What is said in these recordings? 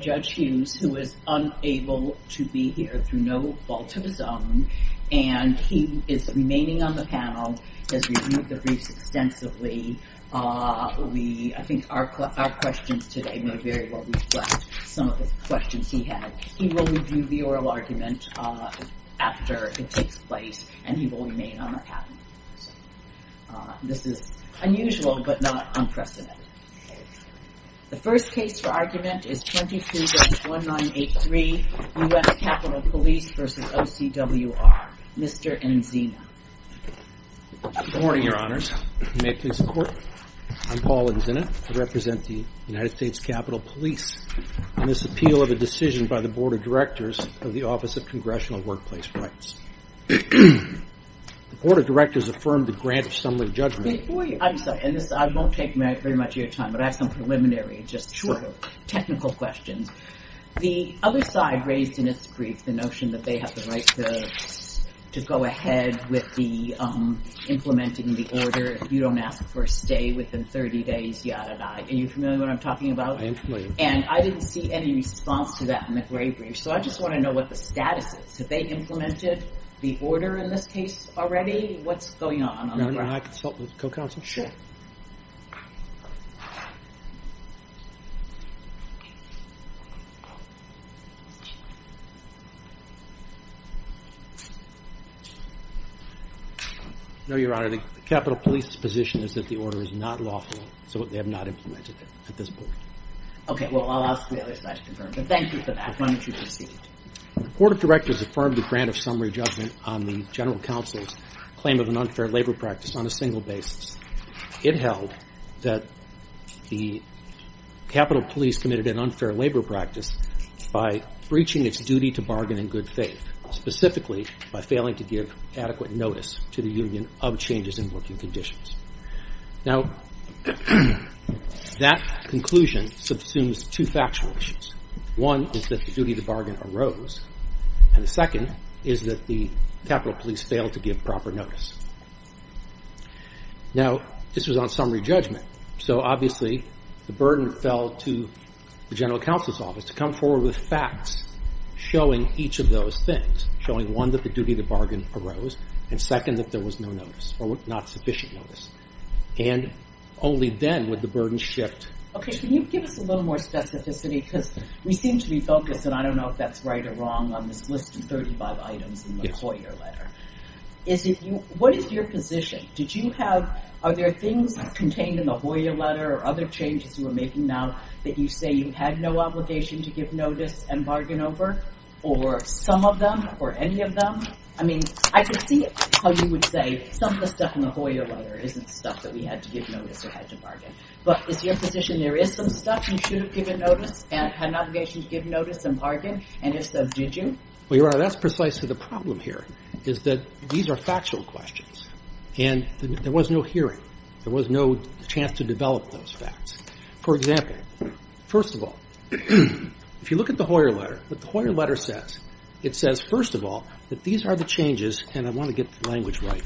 Judge Hughes, who is unable to be here through no fault of his own, and he is remaining on the panel, has reviewed the briefs extensively. I think our questions today may very well reflect some of the questions he had. He will review the oral argument after it takes place, and he will remain on the panel. This is unusual, but not unprecedented. The first case for argument is 22-1983, U.S. Capitol Police v. OCWR. Mr. Enzina. Good morning, Your Honors. You may please report. I'm Paul Enzina. I represent the United States Capitol Police on this appeal of a decision by the Board of Directors of the Office of Congressional Workplace Rights. The Board of Directors affirmed the grant of summary judgment. Before you – I'm sorry. I won't take very much of your time, but I have some preliminary, just sort of technical questions. Sure. The other side raised in its brief the notion that they have the right to go ahead with the implementing the order. You don't ask for a stay within 30 days, yada-da. Are you familiar with what I'm talking about? I am familiar. And I didn't see any response to that in the query brief, so I just want to know what the status is. Have they implemented the order in this case already? What's going on? May I consult with the co-counsel? Sure. No, Your Honor. The Capitol Police's position is that the order is not lawful, so they have not implemented it at this point. Okay. Well, I'll ask the other side to confirm. But thank you for that. Why don't you proceed? The Board of Directors affirmed the grant of summary judgment on the General Counsel's claim of an unfair labor practice on a single basis. It held that the Capitol Police committed an unfair labor practice by breaching its duty to bargain in good faith, specifically by failing to give adequate notice to the Union of Changes in Working Conditions. Now, that conclusion subsumes two factual issues. One is that the duty to bargain arose, and the second is that the Capitol Police failed to give proper notice. Now, this was on summary judgment, so obviously the burden fell to the General Counsel's Office to come forward with facts showing each of those things, showing, one, that the duty to bargain arose, and, second, that there was no notice or not sufficient notice. And only then would the burden shift. Okay. Can you give us a little more specificity? Because we seem to be focused, and I don't know if that's right or wrong, on this list of 35 items in the Hoyer letter. Yes. What is your position? Are there things contained in the Hoyer letter or other changes you are making now that you say you had no obligation to give notice and bargain over, or some of them or any of them? I mean, I could see how you would say some of the stuff in the Hoyer letter isn't stuff that we had to give notice or had to bargain. But is your position there is some stuff you should have given notice and had an obligation to give notice and bargain, and if so, did you? Well, Your Honor, that's precisely the problem here, is that these are factual questions, and there was no hearing. There was no chance to develop those facts. For example, first of all, if you look at the Hoyer letter, what the Hoyer letter says, it says, first of all, that these are the changes, and I want to get the language right,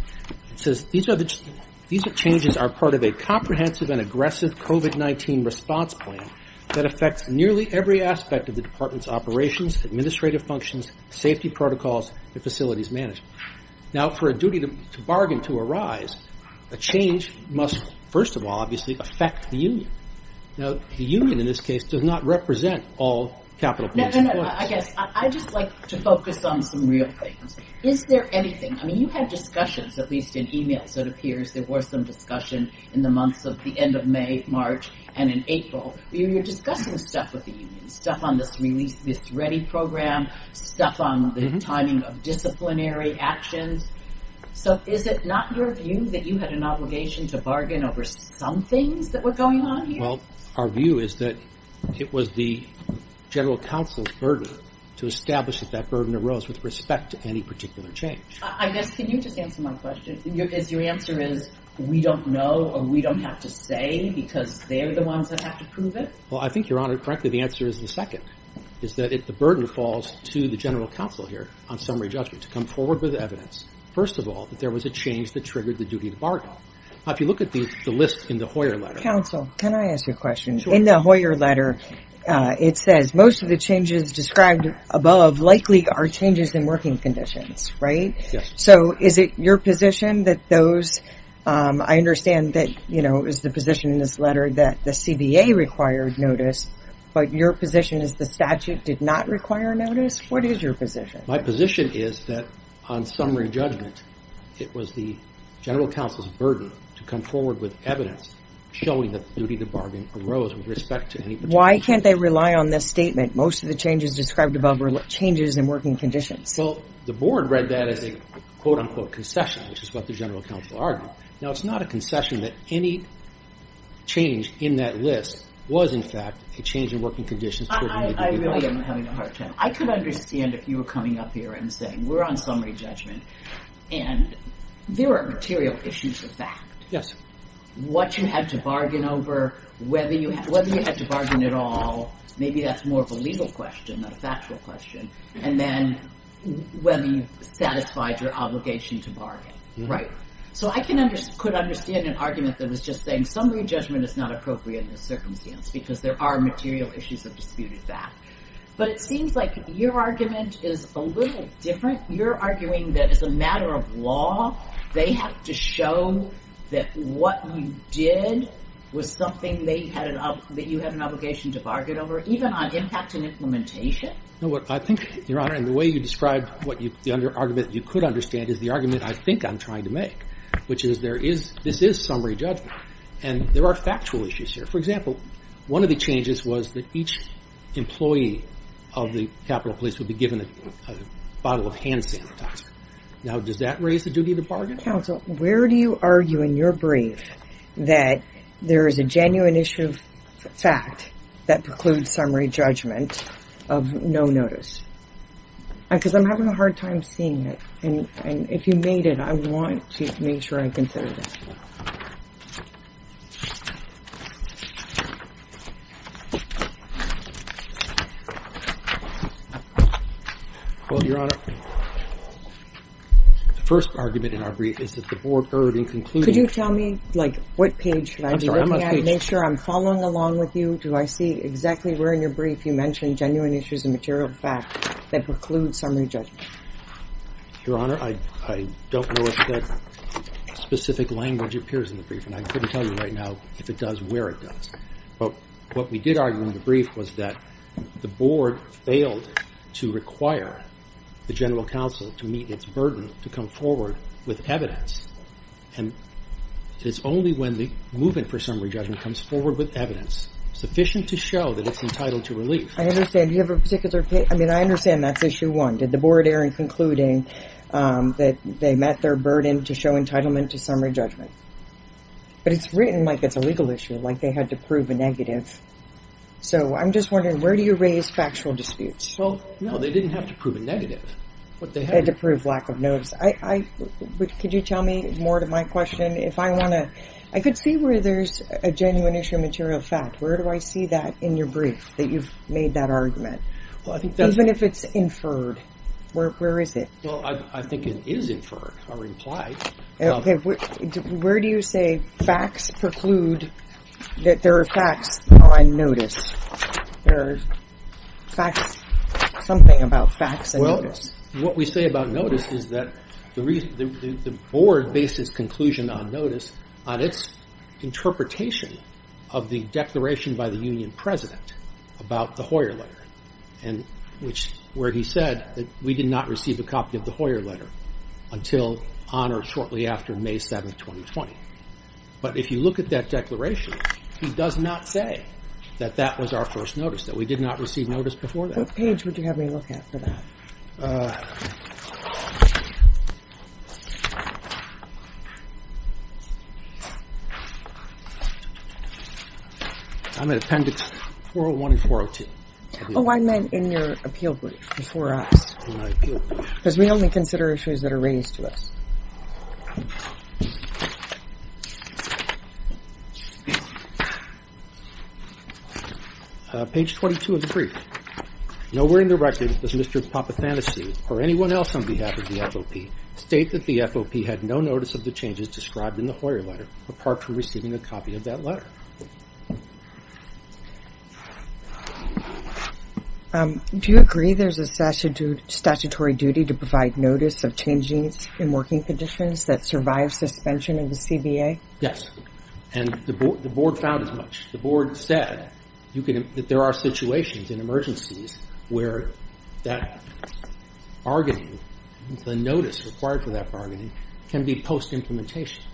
it says, these changes are part of a comprehensive and aggressive COVID-19 response plan that affects nearly every aspect of the department's operations, administrative functions, safety protocols, and facilities management. Now, for a duty to bargain to arise, a change must, first of all, obviously, affect the union. Now, the union, in this case, does not represent all capital points. Your Honor, I guess I'd just like to focus on some real things. Is there anything, I mean, you had discussions, at least in e-mails, it appears there were some discussion in the months of the end of May, March, and in April. You were discussing stuff with the union, stuff on this release, this ready program, stuff on the timing of disciplinary actions. So is it not your view that you had an obligation to bargain over some things that were going on here? Well, our view is that it was the general counsel's burden to establish that that burden arose with respect to any particular change. I guess, can you just answer my question? Is your answer is, we don't know or we don't have to say because they're the ones that have to prove it? Well, I think, Your Honor, correctly, the answer is the second, is that the burden falls to the general counsel here on summary judgment to come forward with evidence, first of all, that there was a change that triggered the duty to bargain. Now, if you look at the list in the Hoyer letter. Counsel, can I ask you a question? Sure. In the Hoyer letter, it says most of the changes described above likely are changes in working conditions, right? Yes. So is it your position that those, I understand that, you know, is the position in this letter that the CBA required notice, but your position is the statute did not require notice? What is your position? My position is that on summary judgment, it was the general counsel's burden to come forward with evidence showing that the duty to bargain arose with respect to any particular change. Why can't they rely on this statement, most of the changes described above were changes in working conditions? Well, the board read that as a, quote, unquote, concession, which is what the general counsel argued. Now, it's not a concession that any change in that list was, in fact, a change in working conditions. I really am having a hard time. I could understand if you were coming up here and saying we're on summary judgment and there are material issues of fact. Yes. What you had to bargain over, whether you had to bargain at all, maybe that's more of a legal question, not a factual question. And then whether you satisfied your obligation to bargain. Right. So I could understand an argument that was just saying summary judgment is not appropriate in this circumstance because there are material issues of disputed fact. But it seems like your argument is a little different. You're arguing that as a matter of law, they have to show that what you did was something that you had an obligation to bargain over, even on impact and implementation? No, I think, Your Honor, in the way you described the argument that you could understand is the argument I think I'm trying to make, which is this is summary judgment. And there are factual issues here. For example, one of the changes was that each employee of the Capitol Police would be given a bottle of hand sanitizer. Now, does that raise the duty to bargain? Where do you argue in your brief that there is a genuine issue of fact that precludes summary judgment of no notice? Because I'm having a hard time seeing it. And if you made it, I want to make sure I consider this. Well, Your Honor, the first argument in our brief is that the board erred in concluding. Could you tell me, like, what page should I be looking at to make sure I'm following along with you? Do I see exactly where in your brief you mentioned genuine issues of material fact that preclude summary judgment? Your Honor, I don't know if that specific language appears in the brief, and I couldn't tell you right now if it does, where it does. But what we did argue in the brief was that the board failed to require the general counsel to meet its burden to come forward with evidence. And it's only when the movement for summary judgment comes forward with evidence sufficient to show that it's entitled to relief. I understand. Do you have a particular case? I mean, I understand that's issue one. Did the board err in concluding that they met their burden to show entitlement to summary judgment? But it's written like it's a legal issue, like they had to prove a negative. So I'm just wondering, where do you raise factual disputes? Well, no, they didn't have to prove a negative. They had to prove lack of notice. Could you tell me more to my question? I could see where there's a genuine issue of material fact. Where do I see that in your brief, that you've made that argument? Even if it's inferred, where is it? Well, I think it is inferred or implied. Okay. Where do you say facts preclude that there are facts on notice? There are facts, something about facts and notice. until on or shortly after May 7, 2020. But if you look at that declaration, he does not say that that was our first notice, that we did not receive notice before that. What page would you have me look at for that? I'm at appendix 401 and 402. Oh, I meant in your appeal brief before us. Because we only consider issues that are raised to us. Page 22 of the brief. Nowhere in the record does Mr. Papathanasi, or anyone else on behalf of the FOP, state that the FOP had no notice of the changes described in the Hoyer letter, apart from receiving a copy of that letter. Do you agree there's a statutory duty to provide notice of changes in working conditions that survive suspension in the CBA? Yes. And the board found as much. The board said that there are situations in emergencies where that bargaining, the notice required for that bargaining, can be post-implementation.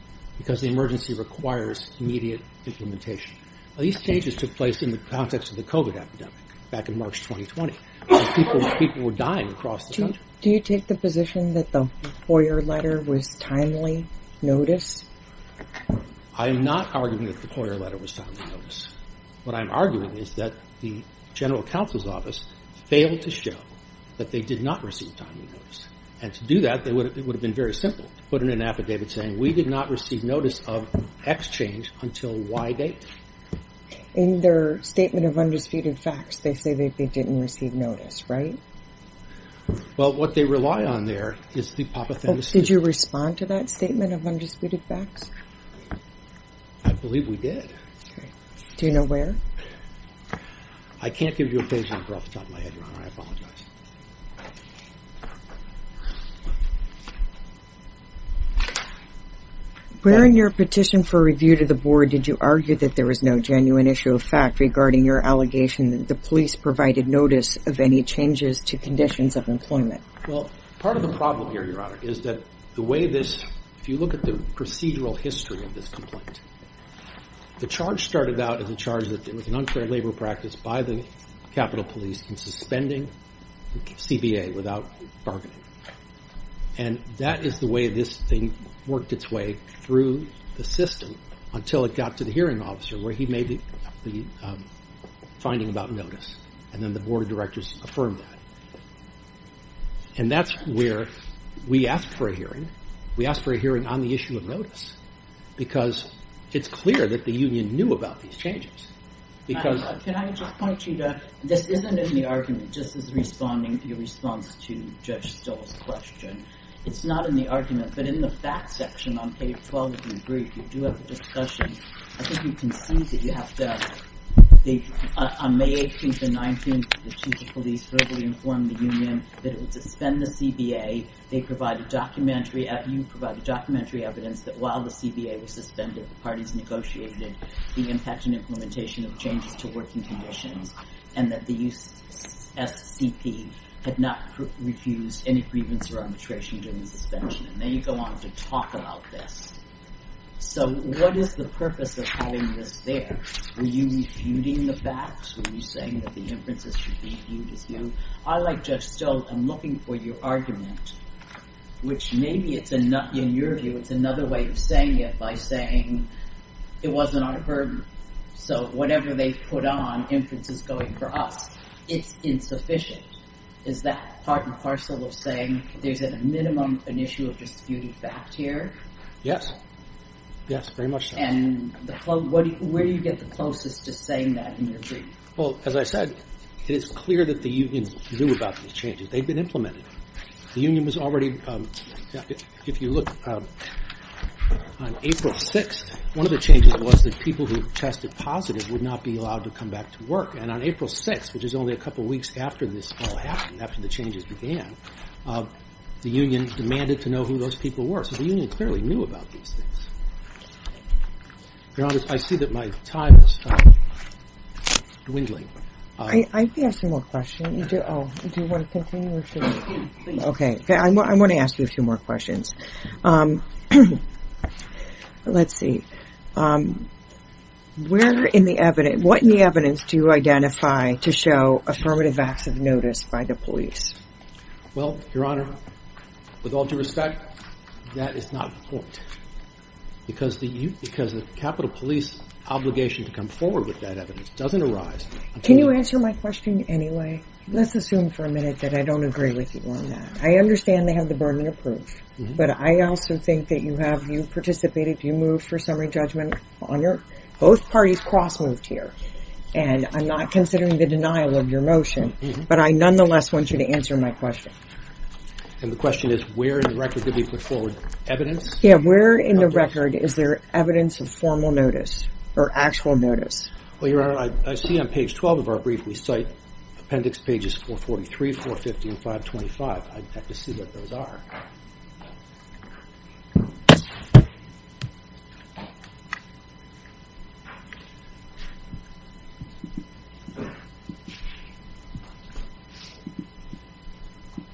These changes took place in the context of the COVID epidemic back in March 2020. People were dying across the country. Do you take the position that the Hoyer letter was timely notice? I'm not arguing that the Hoyer letter was timely notice. What I'm arguing is that the general counsel's office failed to show that they did not receive timely notice. And to do that, it would have been very simple to put in an affidavit saying we did not receive notice of X change until Y date. In their statement of undisputed facts, they say they didn't receive notice, right? Well, what they rely on there is the Papathanasi. Did you respond to that statement of undisputed facts? I believe we did. Do you know where? I can't give you a page number off the top of my head, Your Honor. I apologize. Where in your petition for review to the board did you argue that there was no genuine issue of fact regarding your allegation that the police provided notice of any changes to conditions of employment? Well, part of the problem here, Your Honor, is that the way this... If you look at the procedural history of this complaint, the charge started out as a charge that there was an unfair labor practice by the Capitol Police in suspending CBA without bargaining. And that is the way this thing worked its way through the system until it got to the hearing officer where he made the finding about notice, and then the board of directors affirmed that. And that's where we asked for a hearing. We asked for a hearing on the issue of notice, because it's clear that the union knew about these changes. Can I just point you to... This isn't in the argument, just as responding to your response to Judge Stoll's question. It's not in the argument, but in the fact section on page 12 of your brief, you do have a discussion. I think you can see that you have to... On May 18th and 19th, the chief of police verbally informed the union that it would suspend the CBA. They provided documentary... You provided documentary evidence that while the CBA was suspended, the parties negotiated the impact and implementation of changes to working conditions, and that the USCP had not refused any grievance or arbitration during the suspension. And then you go on to talk about this. So what is the purpose of having this there? Were you refuting the facts? Were you saying that the inferences should be viewed as new? I, like Judge Stoll, am looking for your argument, which maybe in your view, it's another way of saying it, by saying it wasn't our burden. So whatever they put on, inference is going for us. It's insufficient. Is that part and parcel of saying there's at a minimum an issue of disputed fact here? Yes. Yes, very much so. And where do you get the closest to saying that in your brief? Well, as I said, it is clear that the union knew about these changes. They've been implemented. The union was already... If you look on April 6th, one of the changes was that people who tested positive would not be allowed to come back to work. And on April 6th, which is only a couple weeks after this all happened, after the changes began, the union demanded to know who those people were. So the union clearly knew about these things. Your Honor, I see that my time has stopped dwindling. I have some more questions. Do you want to continue? Okay. I want to ask you a few more questions. Let's see. Where in the evidence, what in the evidence do you identify to show affirmative acts of notice by the police? Well, Your Honor, with all due respect, that is not the point. Because the Capitol Police obligation to come forward with that evidence doesn't arise... Can you answer my question anyway? Let's assume for a minute that I don't agree with you on that. I understand they have the burden of proof. But I also think that you have... You participated, you moved for summary judgment on your... Both parties cross-moved here. And I'm not considering the denial of your motion. But I nonetheless want you to answer my question. And the question is, where in the record did they put forward evidence? Yeah, where in the record is there evidence of formal notice or actual notice? Well, Your Honor, I see on page 12 of our brief, we cite appendix pages 443, 450, and 525. I'd have to see what those are.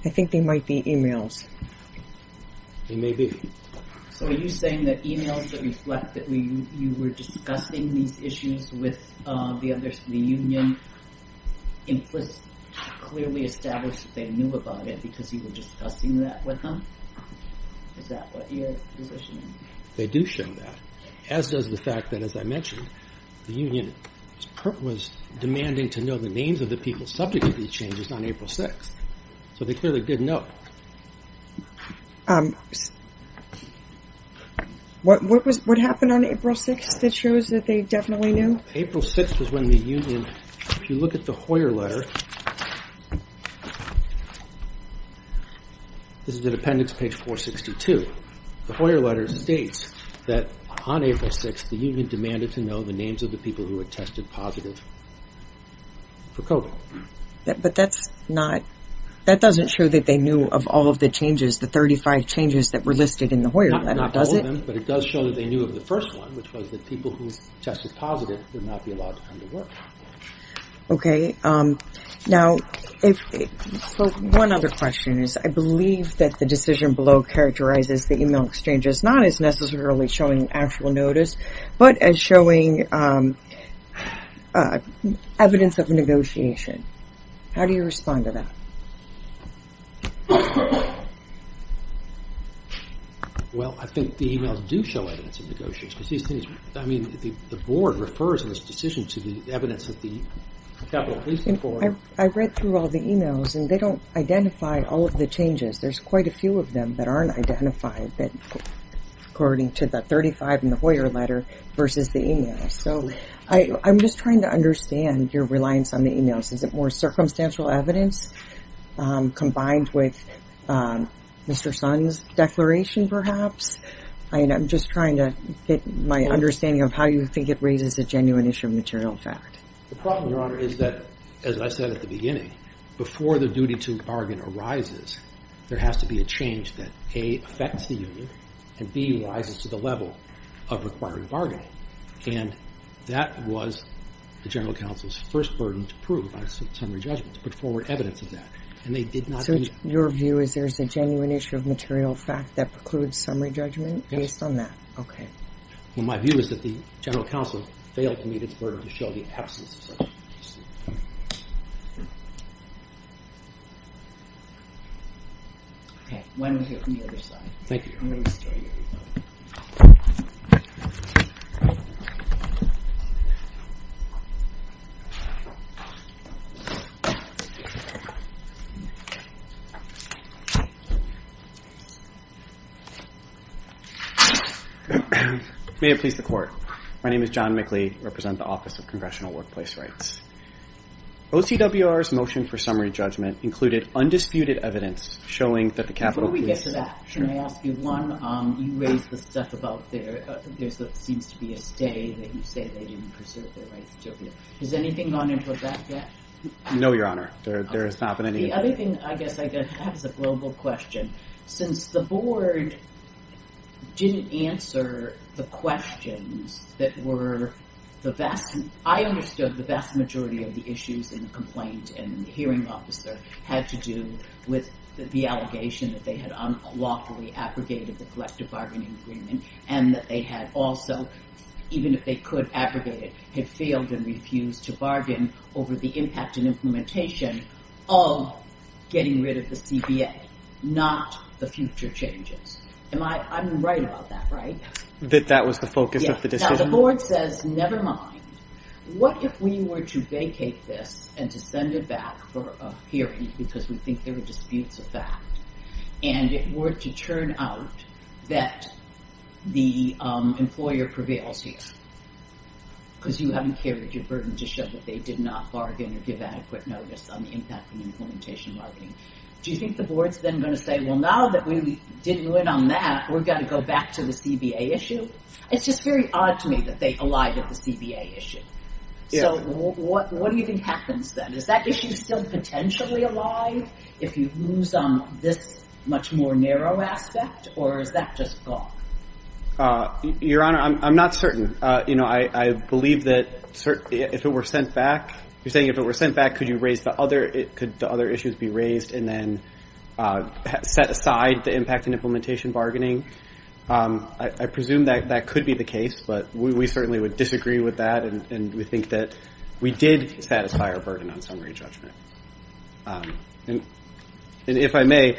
I think they might be emails. They may be. So are you saying that emails that reflect that you were discussing these issues with the others in the union clearly established that they knew about it because you were discussing that with them? Is that what you're positioning? They do show that. As does the fact that, as I mentioned, the union was demanding to know the names of the people subject to these changes on April 6th. So they clearly didn't know. What happened on April 6th that shows that they definitely knew? April 6th is when the union... If you look at the Hoyer letter, this is the appendix page 462, the Hoyer letter states that on April 6th, the union demanded to know the names of the people who had tested positive for COVID. But that's not... That doesn't show that they knew of all of the changes, the 35 changes that were listed in the Hoyer letter, does it? Not all of them, but it does show that they knew of the first one, which was that people who tested positive would not be allowed to come to work. Okay. Now, one other question is, I believe that the decision below characterizes the email exchanges not as necessarily showing actual notice, but as showing evidence of negotiation. How do you respond to that? Well, I think the emails do show evidence of negotiations. I mean, the board refers in this decision to the evidence that the Capital Policing Board... I read through all the emails and they don't identify all of the changes. There's quite a few of them that aren't identified, according to the 35 in the Hoyer letter versus the email. So I'm just trying to understand your reliance on the emails. Is it more circumstantial evidence combined with Mr. Sun's declaration, perhaps? I'm just trying to get my understanding of how you think it raises a genuine issue of material fact. The problem, Your Honor, is that, as I said at the beginning, before the duty to bargain arises, there has to be a change that, A, affects the union, and B, rises to the level of required bargaining. And that was the General Counsel's first burden to prove by summary judgment, to put forward evidence of that. And they did not... So your view is there's a genuine issue of material fact that precludes summary judgment based on that? Okay. Well, my view is that the General Counsel failed to meet its burden to show the absence of such an issue. Okay. Why don't we hear from the other side? Thank you, Your Honor. May it please the Court. My name is John Mickley. I represent the Office of Congressional Workplace Rights. OCWR's motion for summary judgment included undisputed evidence showing that the Capitol Police... Before we get to that, can I ask you one? You raised the stuff about there seems to be a stay, that you say they didn't preserve their rights. Has anything gone into that yet? No, Your Honor. There has not been any... The other thing, I guess, I have is a global question. Since the Board didn't answer the questions that were the vast... I understood the vast majority of the issues in the complaint and the hearing officer had to do with the allegation that they had unlawfully abrogated the collective bargaining agreement, and that they had also, even if they could abrogate it, had failed and refused to bargain over the impact and implementation of getting rid of the CBA, not the future changes. I'm right about that, right? That that was the focus of the decision? No, the Board says, never mind. What if we were to vacate this and to send it back for a hearing, because we think there were disputes of fact, and it were to turn out that the employer prevails here? Because you haven't carried your burden to show that they did not bargain or give adequate notice on the impact and implementation of bargaining. Do you think the Board's then going to say, well, now that we didn't win on that, we're going to go back to the CBA issue? It's just very odd to me that they allied with the CBA issue. So what do you think happens then? Is that issue still potentially alive if you lose on this much more narrow aspect, or is that just gone? Your Honor, I'm not certain. I believe that if it were sent back, you're saying if it were sent back, could the other issues be raised and then set aside the impact and implementation bargaining? I presume that that could be the case, but we certainly would disagree with that, and we think that we did satisfy our burden on summary judgment. And if I may,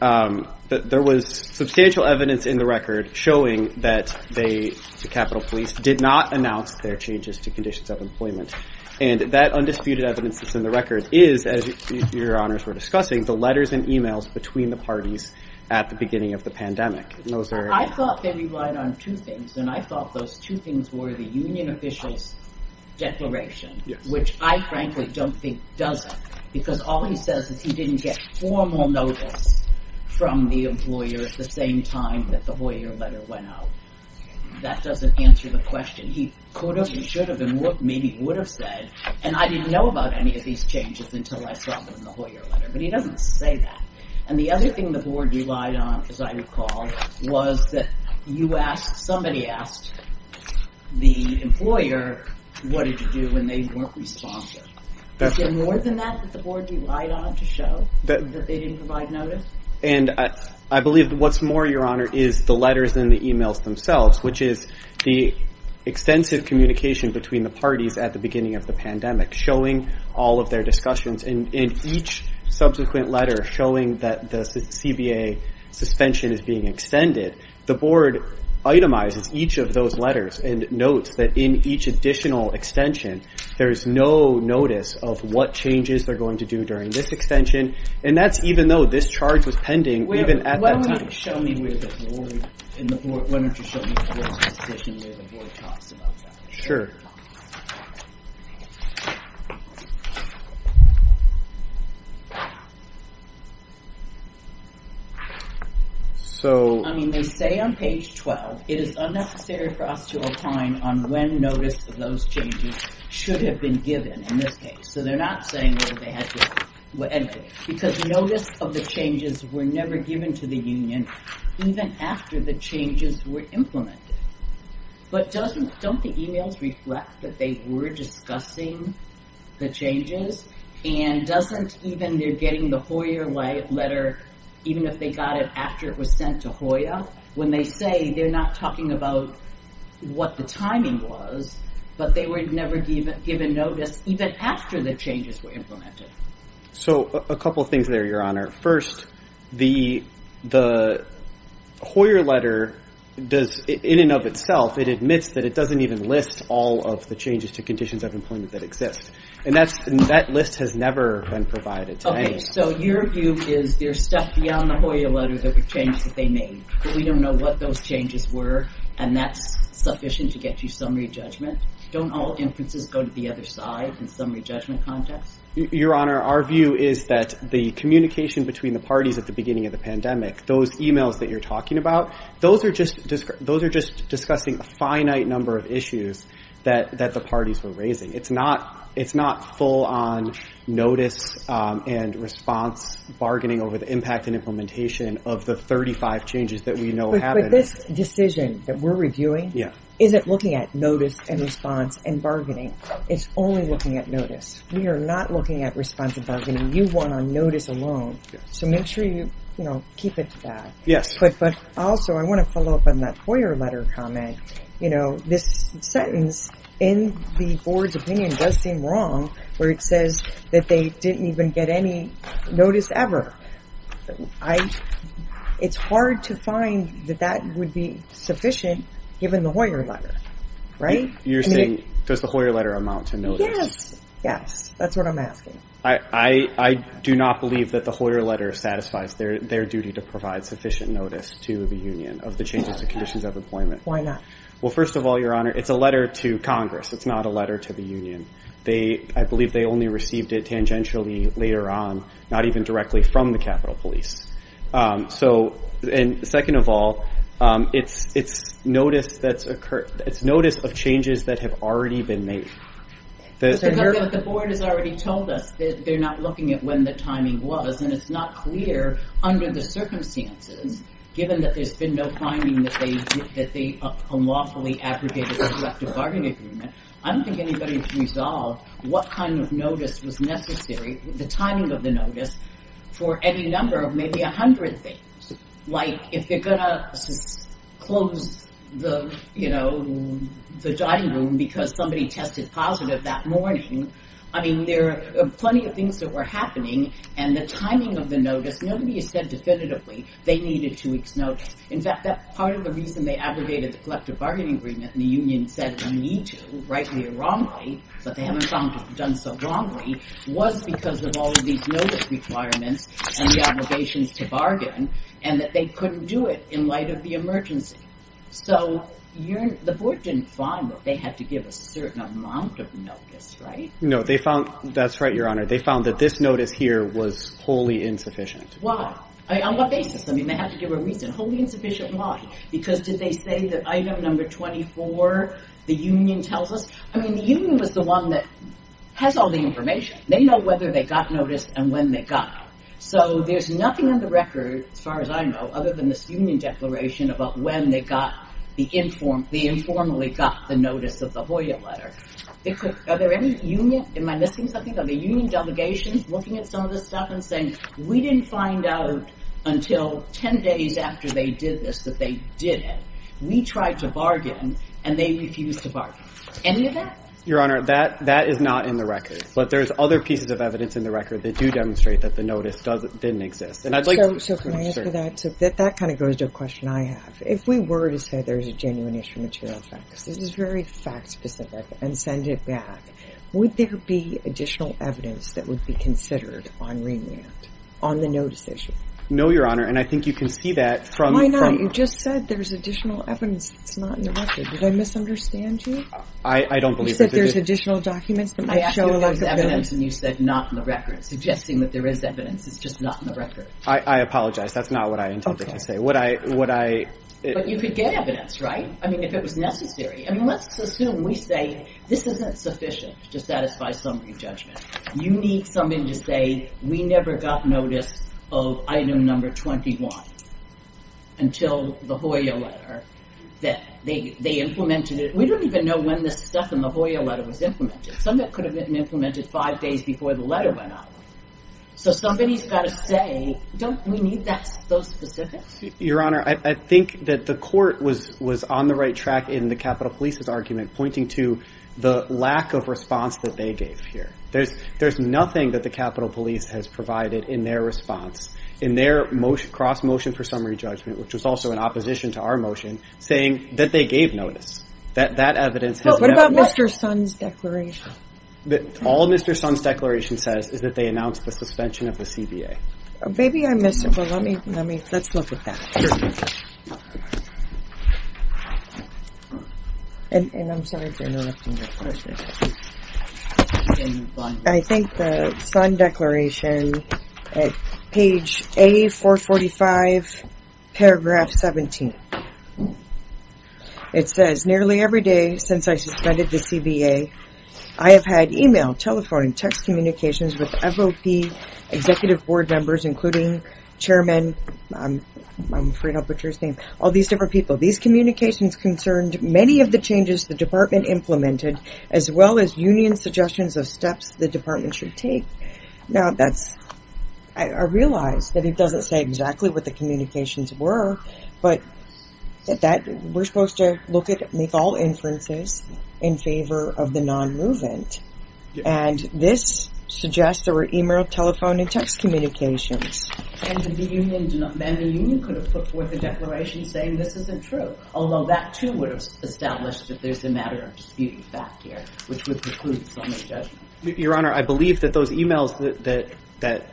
there was substantial evidence in the record showing that the Capitol Police did not announce their changes to conditions of employment. And that undisputed evidence that's in the record is, as your honors were discussing, the letters and emails between the parties at the beginning of the pandemic. I thought they relied on two things, and I thought those two things were the union official's declaration, which I frankly don't think does it, because all he says is he didn't get formal notice from the employer at the same time that the Hoyer letter went out. That doesn't answer the question. He could have and should have and maybe would have said, and I didn't know about any of these changes until I saw them in the Hoyer letter, but he doesn't say that. And the other thing the board relied on, as I recall, was that you asked, somebody asked the employer, what did you do when they weren't responsive? Is there more than that that the board relied on to show that they didn't provide notice? And I believe what's more, your honor, is the letters and the emails themselves, which is the extensive communication between the parties at the beginning of the pandemic, showing all of their discussions. And in each subsequent letter showing that the CBA suspension is being extended, the board itemizes each of those letters and notes that in each additional extension, there is no notice of what changes they're going to do during this extension. And that's even though this charge was pending, even at that time. Show me where the board, why don't you show me where the board talks about that. Sure. So... I mean, they say on page 12, it is unnecessary for us to opine on when notice of those changes should have been given in this case. So they're not saying that they had to... Because notice of the changes were never given to the union, even after the changes were implemented. But doesn't, don't the emails reflect that they were discussing the changes? And doesn't even, they're getting the Hoyer letter, even if they got it after it was sent to Hoyer, when they say they're not talking about what the timing was, but they were never given notice even after the changes were implemented. So a couple of things there, Your Honor. First, the Hoyer letter does, in and of itself, it admits that it doesn't even list all of the changes to conditions of employment that exist. And that list has never been provided to anyone. Okay, so your view is there's stuff beyond the Hoyer letter that would change that they made. We don't know what those changes were. And that's sufficient to get you summary judgment. Don't all inferences go to the other side in summary judgment context? Your Honor, our view is that the communication between the parties at the beginning of the pandemic, those emails that you're talking about, those are just discussing a finite number of issues that the parties were raising. It's not full on notice and response bargaining over the impact and implementation of the 35 changes that we know happened. But this decision that we're reviewing isn't looking at notice and response and bargaining. It's only looking at notice. We are not looking at response and bargaining. You want on notice alone. So make sure you keep it to that. Yes. But also, I want to follow up on that Hoyer letter comment. This sentence in the board's opinion does seem wrong where it says that they didn't even get any notice ever. It's hard to find that that would be sufficient given the Hoyer letter, right? You're saying, does the Hoyer letter amount to notice? Yes. Yes, that's what I'm asking. I do not believe that the Hoyer letter satisfies their duty to provide sufficient notice to the union of the changes and conditions of employment. Why not? Well, first of all, Your Honor, it's a letter to Congress. It's not a letter to the union. I believe they only received it tangentially later on, not even directly from the Capitol Police. So second of all, it's notice of changes that have already been made. But the board has already told us that they're not looking at when the timing was, and it's not clear under the circumstances, given that there's been no finding that they unlawfully aggregated a collective bargaining agreement. I don't think anybody's resolved what kind of notice was necessary, the timing of the notice, for any number of maybe 100 things. Like if they're going to close the, you know, the dining room because somebody tested positive that morning. I mean, there are plenty of things that were happening, and the timing of the notice, nobody has said definitively they needed two weeks notice. In fact, part of the reason they aggregated the collective bargaining agreement and the union said we need to, rightly or wrongly, but they haven't done so wrongly, was because of all of these notice requirements and the obligations to bargain, and that they couldn't do it in light of the emergency. So the board didn't find that they had to give a certain amount of notice, right? No, that's right, Your Honor. They found that this notice here was wholly insufficient. Why? On what basis? I mean, they have to give a reason. Wholly insufficient, why? Because did they say that item number 24, the union tells us? I mean, the union was the one that has all the information. They know whether they got notice and when they got it. So there's nothing on the record, as far as I know, other than this union declaration about when they got the informally got the notice of the Hoya letter. Are there any union, am I missing something? Are there any union delegations looking at some of this stuff and saying, we didn't find out until 10 days after they did this that they did it. We tried to bargain, and they refused to bargain. Any of that? Your Honor, that is not in the record. But there's other pieces of evidence in the record that do demonstrate that the notice didn't exist. So can I answer that? That kind of goes to a question I have. If we were to say there's a genuine issue of material facts, this is very fact-specific, and send it back, would there be additional evidence that would be considered on remand on the notice issue? No, Your Honor, and I think you can see that from Why not? You just said there's additional evidence that's not in the record. Did I misunderstand you? I don't believe it. You said there's additional documents that might show a lack of evidence. I asked you if there was evidence, and you said not in the record, suggesting that there is evidence. It's just not in the record. I apologize. That's not what I intended to say. Okay. Would I, would I But you could get evidence, right? I mean, if it was necessary. I mean, let's assume we say this isn't sufficient to satisfy summary judgment. You need something to say we never got notice of item number 21 until the Hoya letter, that they implemented it. We don't even know when this stuff in the Hoya letter was implemented. Some of it could have been implemented five days before the letter went out. So somebody's got to say, don't we need those specifics? Your Honor, I think that the court was on the right track in the Capitol Police's argument pointing to the lack of response that they gave here. There's nothing that the Capitol Police has provided in their response, in their cross-motion for summary judgment, which was also in opposition to our motion, saying that they gave notice. That evidence has never met. What about Mr. Sun's declaration? All Mr. Sun's declaration says is that they announced the suspension of the CBA. Maybe I missed it, but let me, let's look at that. Sure. And I'm sorry for interrupting your question. I think the Sun declaration at page A445, paragraph 17. It says, nearly every day since I suspended the CBA, I have had email, telephone, and text communications with FOP, executive board members, including Chairman, I'm afraid I'll put your name, all these different people. These communications concerned many of the changes the department implemented as well as union suggestions of steps the department should take. Now that's, I realize that it doesn't say exactly what the communications were, but we're supposed to look at, make all inferences in favor of the non-movement. And this suggests there were email, telephone, and text communications. And the union could have put forth a declaration saying this isn't true, although that too would have established that there's a matter of dispute back here, which would preclude some of the judgment. Your Honor, I believe that those emails that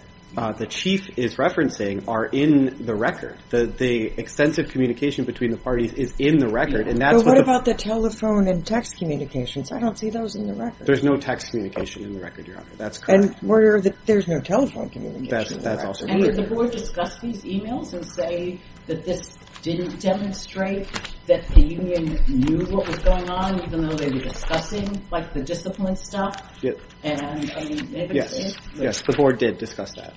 the chief is referencing are in the record. The extensive communication between the parties is in the record. But what about the telephone and text communications? I don't see those in the record. There's no text communication in the record, Your Honor. And there's no telephone communication in the record. And did the board discuss these emails and say that this didn't demonstrate that the union knew what was going on, even though they were discussing the discipline stuff? Yes, the board did discuss that.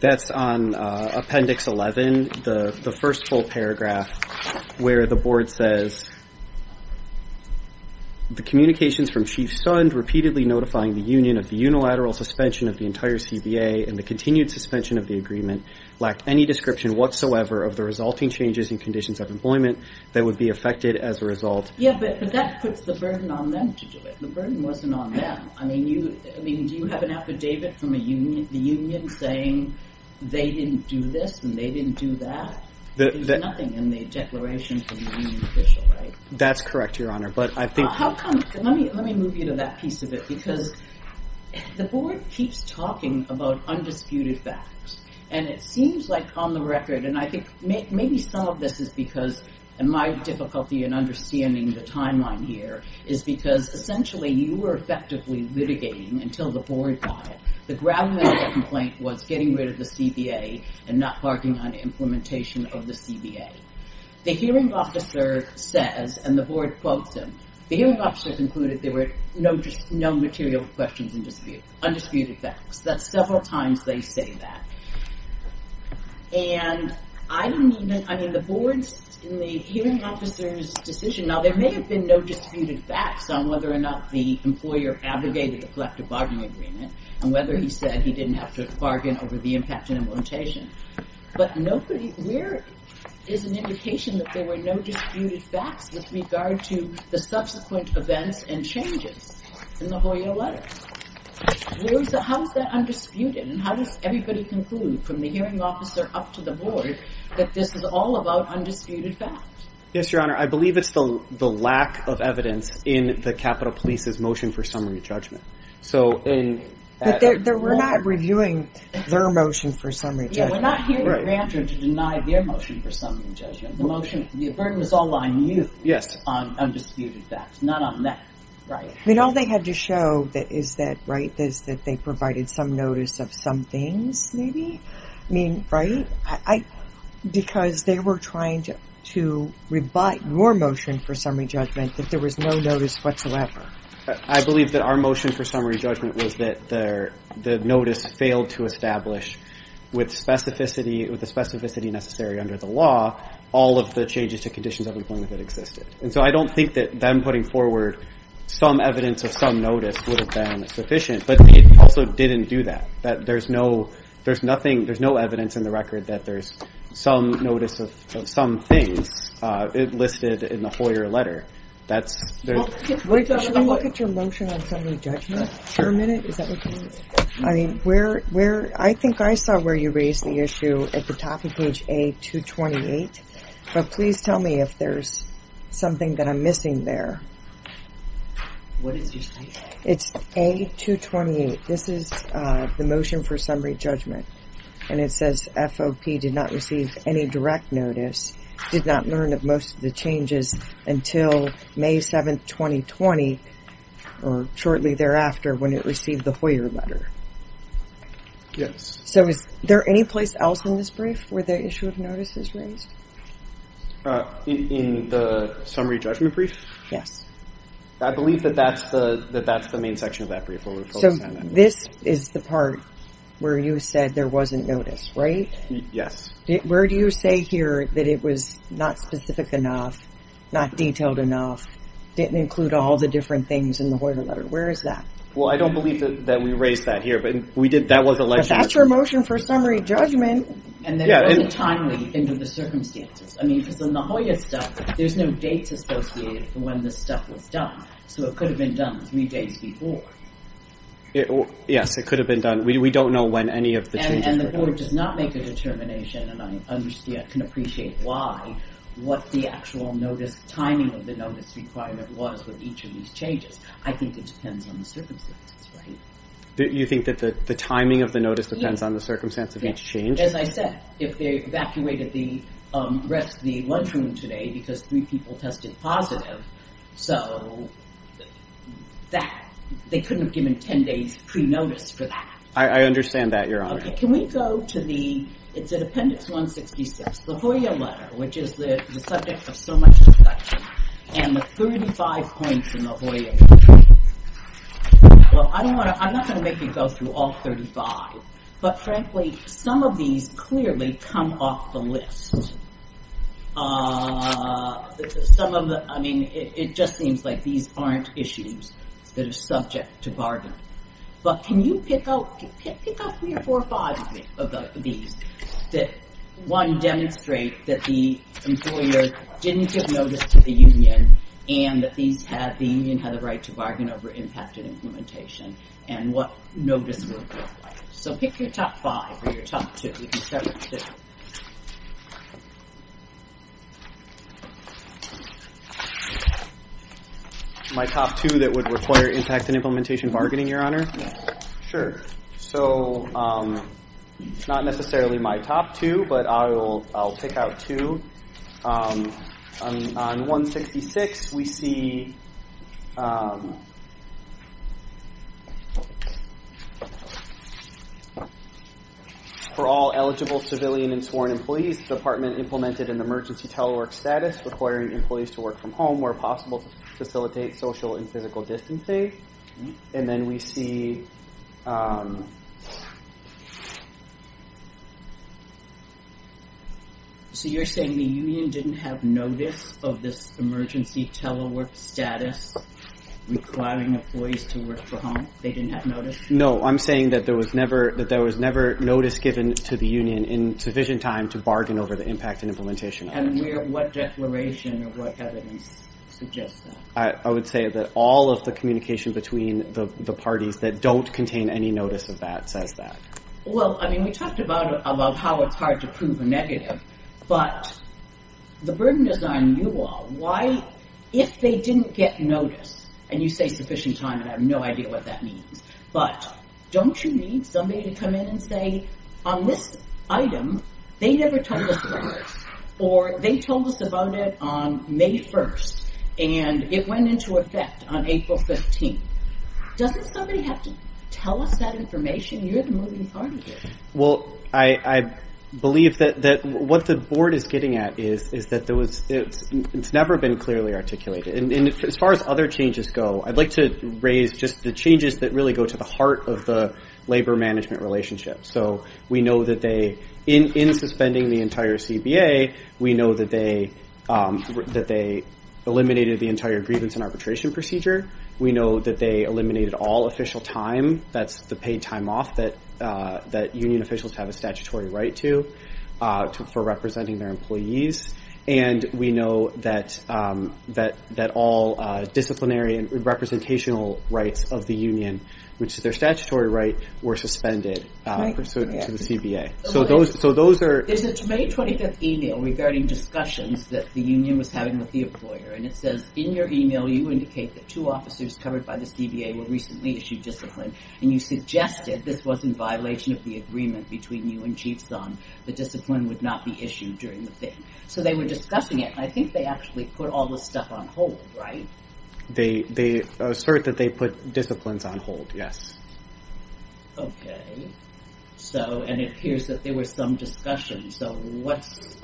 That's on Appendix 11, the first full paragraph, where the board says, the communications from Chief Sund repeatedly notifying the union of the unilateral suspension of the entire CBA and the continued suspension of the agreement lacked any description whatsoever of the resulting changes in conditions of employment that would be affected as a result. Yeah, but that puts the burden on them to do it. The burden wasn't on them. I mean, do you have an affidavit from the union saying they didn't do this and they didn't do that? There's nothing in the declaration from the union official, right? That's correct, Your Honor. Let me move you to that piece of it, because the board keeps talking about undisputed facts. And it seems like, on the record, and I think maybe some of this is because, and my difficulty in understanding the timeline here is because, essentially, you were effectively litigating until the board got it. The ground level complaint was getting rid of the CBA and not barking on implementation of the CBA. The hearing officer says, and the board quotes him, the hearing officer concluded there were no material questions in dispute, undisputed facts. That's several times they say that. And I didn't even, I mean, the board, in the hearing officer's decision, now, there may have been no disputed facts on whether or not the employer abrogated the collective bargaining agreement, and whether he said he didn't have to bargain over the impact on implementation. But nobody, where is an indication that there were no disputed facts with regard to the subsequent events and changes in the Hoya letter? How is that undisputed? And how does everybody conclude, from the hearing officer up to the board, that this is all about undisputed facts? Yes, Your Honor, I believe it's the lack of evidence in the Capitol Police's motion for summary judgment. But we're not reviewing their motion for summary judgment. Yeah, we're not hearing Grantor to deny their motion for summary judgment. The motion, the burden was all on you on undisputed facts, not on that. I mean, all they had to show is that, right, is that they provided some notice of some things, maybe? I mean, right? Because they were trying to rebut your motion for summary judgment, that there was no notice whatsoever. I believe that our motion for summary judgment was that the notice failed to establish, with the specificity necessary under the law, all of the changes to conditions of employment that existed. And so I don't think that them putting forward some evidence of some notice would have been sufficient. But it also didn't do that, that there's no evidence in the record that there's some notice of some things listed in the Hoyer letter. Should we look at your motion on summary judgment for a minute? Is that what you mean? I think I saw where you raised the issue at the top of page A228. But please tell me if there's something that I'm missing there. What is your statement? It's A228. This is the motion for summary judgment. And it says FOP did not receive any direct notice, did not learn of most of the changes until May 7, 2020, or shortly thereafter when it received the Hoyer letter. Yes. So is there any place else in this brief where the issue of notice is raised? In the summary judgment brief? Yes. I believe that that's the main section of that brief. So this is the part where you said there wasn't notice, right? Yes. Where do you say here that it was not specific enough, not detailed enough, didn't include all the different things in the Hoyer letter? Where is that? Well, I don't believe that we raised that here. But that's your motion for summary judgment. And it wasn't timely in the circumstances. I mean, because in the Hoyer stuff, there's no dates associated for when this stuff was done. So it could have been done three days before. Yes, it could have been done. We don't know when any of the changes were made. And the board does not make a determination, and I can appreciate why, what the actual timing of the notice requirement was with each of these changes. I think it depends on the circumstances, right? You think that the timing of the notice depends on the circumstance of each change? Yes, as I said, if they evacuated the rest of the lunchroom today because three people tested positive, so they couldn't have given 10 days pre-notice for that. I understand that, Your Honor. Okay, can we go to the, it's in Appendix 166, the Hoyer letter, which is the subject of so much discussion, and the 35 points in the Hoyer letter. Well, I'm not going to make you go through all 35, but frankly, some of these clearly come off the list. Some of the, I mean, it just seems like these aren't issues that are subject to bargain. But can you pick out three or four or five of these that, one, demonstrate that the employer didn't give notice to the union, and that the union had the right to bargain over impact and implementation, and what notice would apply? So pick your top five or your top two. We can start with two. My top two that would require impact and implementation bargaining, Your Honor? Yeah. Sure. So, not necessarily my top two, but I'll pick out two. On 166, we see... For all eligible civilian and sworn employees, the department implemented an emergency telework status requiring employees to work from home where possible to facilitate social and physical distancing. And then we see... So you're saying the union didn't have notice of this emergency telework status requiring employees to work from home? They didn't have notice? No. I'm saying that there was never notice given to the union in sufficient time to bargain over the impact and implementation. And what declaration or what evidence suggests that? I would say that all of the communication between the parties that don't contain any notice of that Well, I mean, we talked about how it's hard to prove a negative, but the burden is on you all. Why, if they didn't get notice, and you say sufficient time, and I have no idea what that means, but don't you need somebody to come in and say, on this item, they never told us about this, or they told us about it on May 1st, and it went into effect on April 15th. Doesn't somebody have to tell us that information? You're the moving party here. Well, I believe that what the board is getting at is that it's never been clearly articulated. And as far as other changes go, I'd like to raise just the changes that really go to the heart of the labor-management relationship. So we know that they, in suspending the entire CBA, we know that they eliminated the entire grievance and arbitration procedure. We know that they eliminated all official time. That's the paid time off that union officials have a statutory right to for representing their employees. And we know that all disciplinary and representational rights of the union, which is their statutory right, were suspended pursuant to the CBA. So those are... There's a May 25th email regarding discussions that the union was having with the employer, and it says, in your email, you indicate that two officers covered by the CBA were recently issued discipline, and you suggested this was in violation of the agreement between you and Chief Zahn that discipline would not be issued during the thing. So they were discussing it, and I think they actually put all this stuff on hold, right? They assert that they put disciplines on hold, yes. Okay. So... And it appears that there was some discussion. So what's...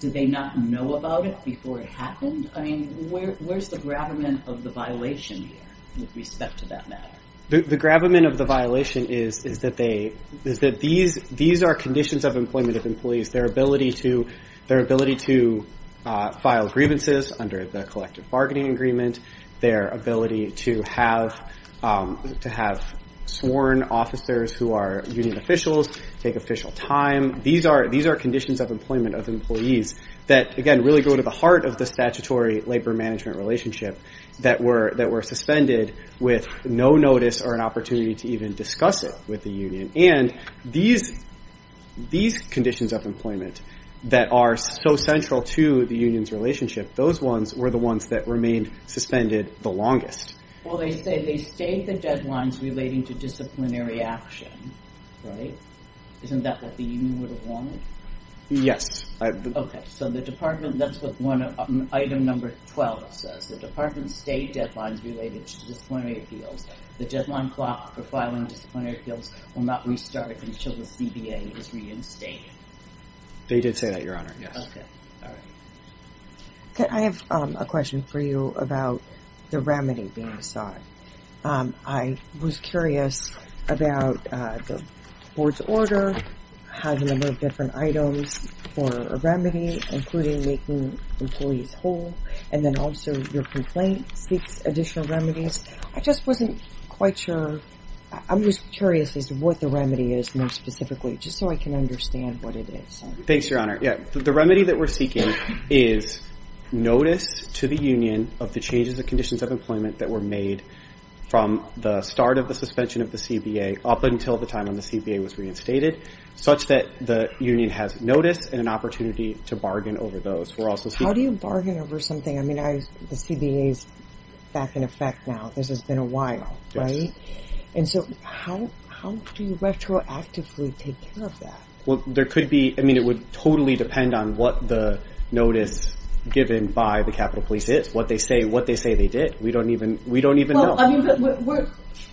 Did they not know about it before it happened? I mean, where's the gravamen of the violation here with respect to that matter? The gravamen of the violation is that these are conditions of employment of employees. Their ability to file grievances under the collective bargaining agreement, their ability to have sworn officers who are union officials take official time. These are conditions of employment of employees that, again, really go to the heart of the statutory labor-management relationship that were suspended with no notice or an opportunity to even discuss it with the union. And these conditions of employment that are so central to the union's relationship, those ones were the ones that remained suspended the longest. Well, they say they stayed the deadlines relating to disciplinary action, right? Isn't that what the union would have wanted? Yes. Okay, so the department... That's what item number 12 says. The department stayed deadlines related to disciplinary appeals. The deadline clock for filing disciplinary appeals will not restart until the CBA is reinstated. They did say that, Your Honor, yes. Okay. Okay, I have a question for you about the remedy being sought. I was curious about the board's order, how the number of different items for a remedy, including making employees whole, and then also your complaint seeks additional remedies. I just wasn't quite sure. I'm just curious as to what the remedy is more specifically, just so I can understand what it is. Thanks, Your Honor. Yeah, the remedy that we're seeking is notice to the union of the changes and conditions of employment that were made from the start of the suspension of the CBA up until the time when the CBA was reinstated, such that the union has notice and an opportunity to bargain over those. How do you bargain over something? I mean, the CBA is back in effect now. This has been a while, right? And so how do you retroactively take care of that? Well, there could be... I mean, it would totally depend on what the notice given by the Capitol Police is, what they say they did. We don't even know.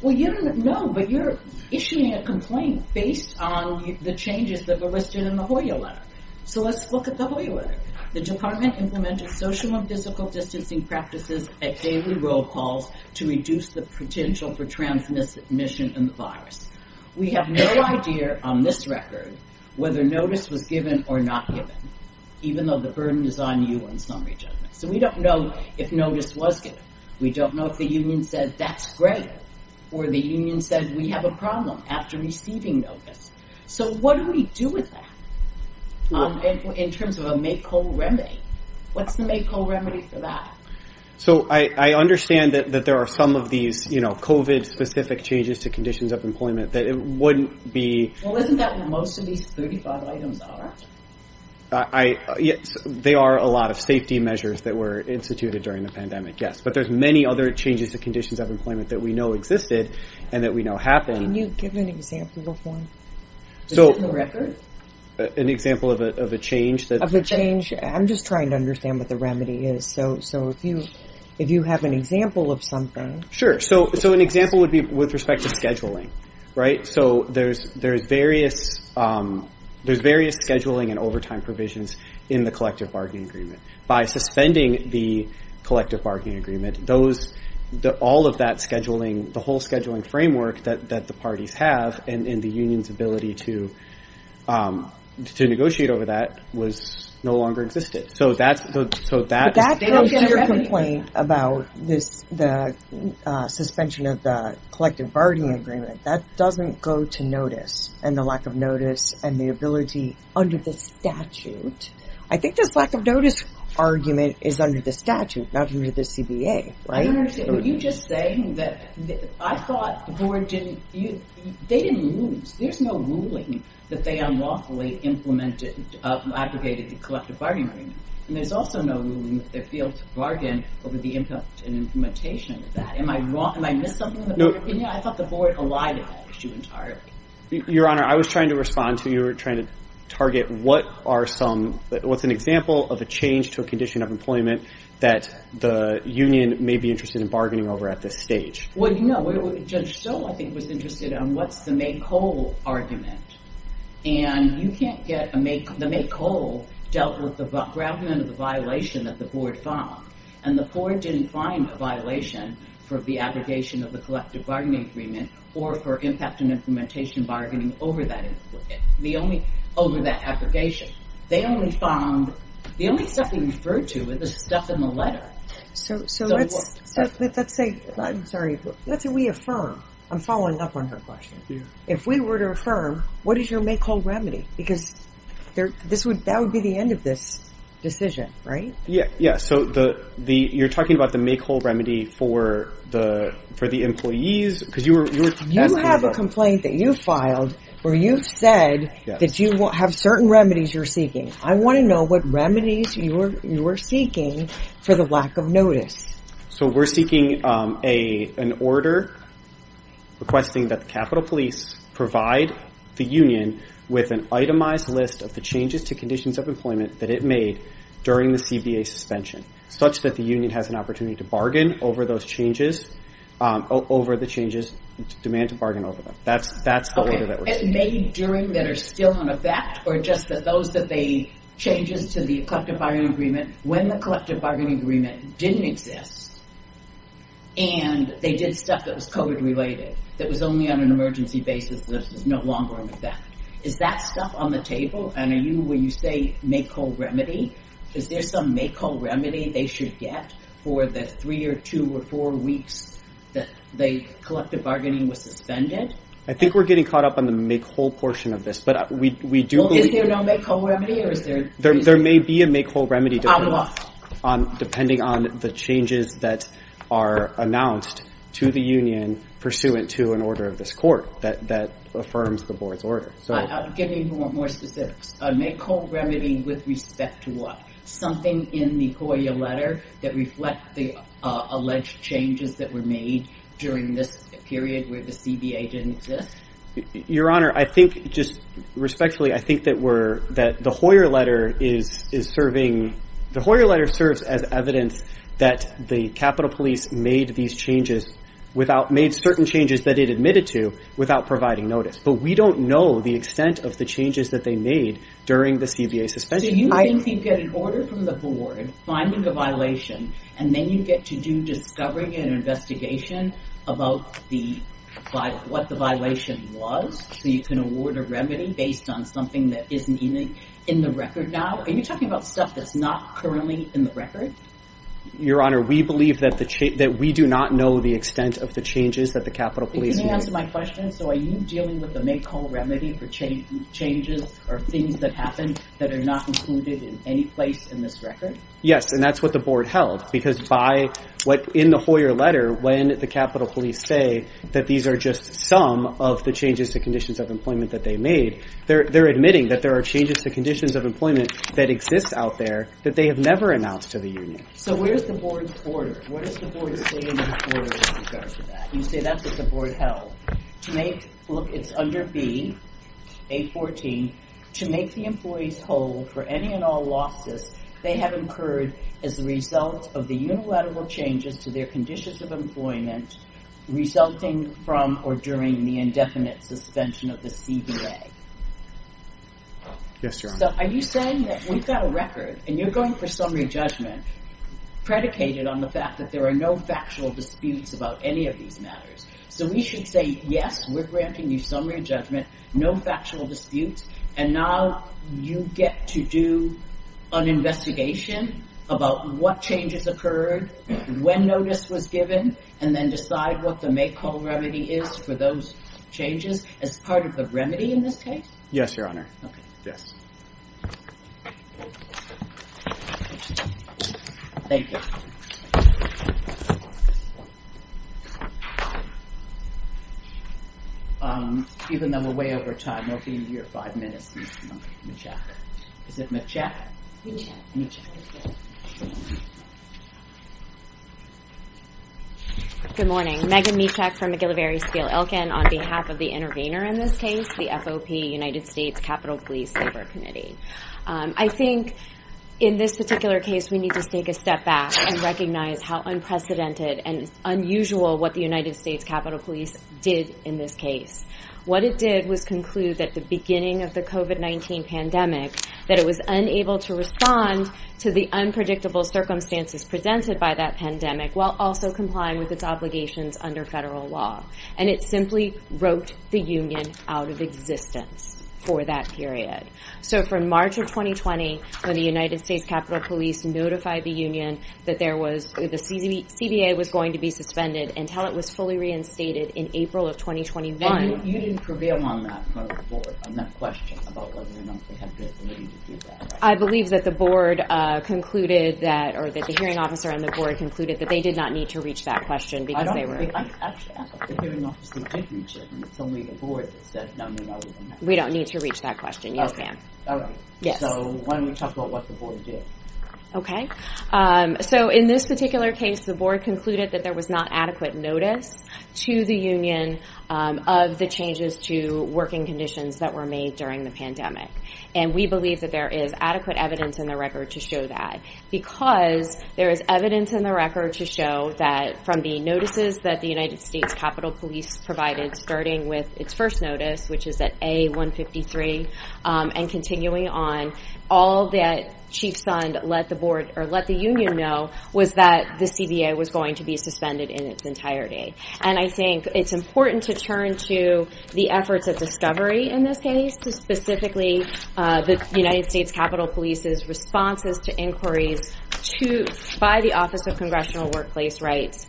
Well, you don't know, but you're issuing a complaint based on the changes that were listed in the Hoya letter. So let's look at the Hoya letter. The department implemented social and physical distancing practices at daily roll calls to reduce the potential for transmission of the virus. We have no idea on this record whether notice was given or not given, even though the burden is on you in summary judgment. So we don't know if notice was given. We don't know if the union said, that's great, or the union said, we have a problem after receiving notice. So what do we do with that in terms of a make-all remedy? What's the make-all remedy for that? So I understand that there are some of these, you know, COVID-specific changes to conditions of employment that it wouldn't be... Well, isn't that what most of these 35 items are? They are a lot of safety measures that were instituted during the pandemic, yes. But there's many other changes to conditions of employment that we know existed and that we know happened. Can you give an example of one? An example of a change? Of a change? I'm just trying to understand what the remedy is. So if you have an example of something... Sure, so an example would be with respect to scheduling, right? There's various scheduling and overtime provisions in the collective bargaining agreement. By suspending the collective bargaining agreement, all of that scheduling, the whole scheduling framework that the parties have and the union's ability to negotiate over that no longer existed. But that comes to your complaint about the suspension of the collective bargaining agreement. That doesn't go to notice and the lack of notice and the ability under the statute. I think this lack of notice argument is under the statute, not under the CBA, right? I don't understand. Were you just saying that I thought the board didn't... They didn't lose. There's no ruling that they unlawfully implemented, abrogated the collective bargaining agreement. And there's also no ruling that they failed to bargain over the impact and implementation of that. Am I wrong? Am I missing something in the board opinion? I thought the board allied with that issue entirely. Your Honor, I was trying to respond to you. You were trying to target what are some... What's an example of a change to a condition of employment that the union may be interested in bargaining over at this stage? Well, you know, Judge Stowe, I think, was interested in what's the make-whole argument. And you can't get a make... The make-whole dealt with the argument of the violation that the board found. And the board didn't find a violation for the abrogation of the collective bargaining agreement or for impact and implementation bargaining over that... over that abrogation. They only found... The only stuff they referred to was the stuff in the letter. So let's say... I'm sorry. What do we affirm? I'm following up on her question. If we were to affirm, what is your make-whole remedy? Because that would be the end of this decision, right? Yeah, so you're talking about the make-whole remedy for the employees, because you were... You have a complaint that you filed where you've said that you have certain remedies you're seeking. I want to know what remedies you are seeking for the lack of notice. So we're seeking an order requesting that the Capitol Police provide the union with an itemized list of the changes to conditions of employment that it made during the CBA suspension, such that the union has an opportunity to bargain over those changes... over the changes, demand to bargain over them. That's the order that we're seeking. Okay, made during, that are still in effect, or just that those that they... changes to the collective bargaining agreement when the collective bargaining agreement didn't exist and they did stuff that was COVID-related, that was only on an emergency basis, that is no longer in effect. Is that stuff on the table? And are you, when you say make-whole remedy, is there some make-whole remedy they should get for the three or two or four weeks that the collective bargaining was suspended? I think we're getting caught up on the make-whole portion of this, but we do believe... Well, is there no make-whole remedy, or is there... There may be a make-whole remedy depending on... On what? Depending on the changes that are announced to the union pursuant to an order of this court that affirms the board's order. Give me more specifics. A make-whole remedy with respect to what? Something in the Hoyer letter that reflects the alleged changes that were made during this period where the CBA didn't exist? Your Honor, I think, just respectfully, I think that we're... that the Hoyer letter is serving... The Hoyer letter serves as evidence that the Capitol Police made these changes without... made certain changes that it admitted to without providing notice. But we don't know the extent of the changes that they made during the CBA suspension. So you think you get an order from the board finding a violation, and then you get to do discovering and investigation about what the violation was so you can award a remedy based on something that isn't even in the record now? Are you talking about stuff that's not currently in the record? Your Honor, we believe that we do not know the extent of the changes that the Capitol Police made. Can you answer my question? So are you dealing with a make-all remedy for changes or things that happened that are not included in any place in this record? Yes, and that's what the board held because by what... In the Hoyer letter, when the Capitol Police say that these are just some of the changes to conditions of employment that they made, they're admitting that there are changes to conditions of employment that exist out there that they have never announced to the union. So where's the board's order? What does the board say in the order in regards to that? You say that's what the board held. To make... Look, it's under B, A14. To make the employees whole for any and all losses they have incurred as a result of the unilateral changes to their conditions of employment resulting from or during the indefinite suspension of the CBA. Yes, Your Honor. So are you saying that we've got a record, and you're going for summary judgment, predicated on the fact that there are no factual disputes about any of these matters? So we should say, yes, we're granting you summary judgment, no factual disputes, and now you get to do an investigation about what changes occurred, when notice was given, and then decide what the make-all remedy is for those changes as part of the remedy in this case? Yes, Your Honor. Okay. Yes. Thank you. Even though we're way over time, it'll be your five minutes, Ms. Michak. Is it Michak? Michak. Michak. Good morning. Megan Michak from McGillivary Steel Elkin on behalf of the intervener in this case, the FOP, United States Capitol Police Labor Committee. I think in this particular case we need to take a step back and recognize how unprecedented and unusual what the United States Capitol Police did in this case. What it did was conclude at the beginning of the COVID-19 pandemic that it was unable to respond to the unpredictable circumstances presented by that pandemic while also complying with its obligations under federal law. And it simply wrote the union out of existence for that period. So from March of 2020, when the United States Capitol Police notified the union that the CBA was going to be suspended until it was fully reinstated in April of 2021... I believe that the board concluded that... Or that the hearing officer and the board concluded that they did not need to reach that question because they were... We don't need to reach that question. Yes, ma'am. Yes. Okay. So in this particular case, the board concluded that there was not adequate notice to the union of the changes to working conditions that were made during the pandemic. And we believe that there is adequate evidence in the record to show that because there is evidence in the record to show that from the notices that the United States Capitol Police provided starting with its first notice, which is at A-153, and continuing on, all that Chief Sund let the union know was that the CBA was going to be suspended in its entirety. And I think it's important to turn to the efforts of discovery in this case, specifically the United States Capitol Police's responses to inquiries by the Office of Congressional Workplace Rights,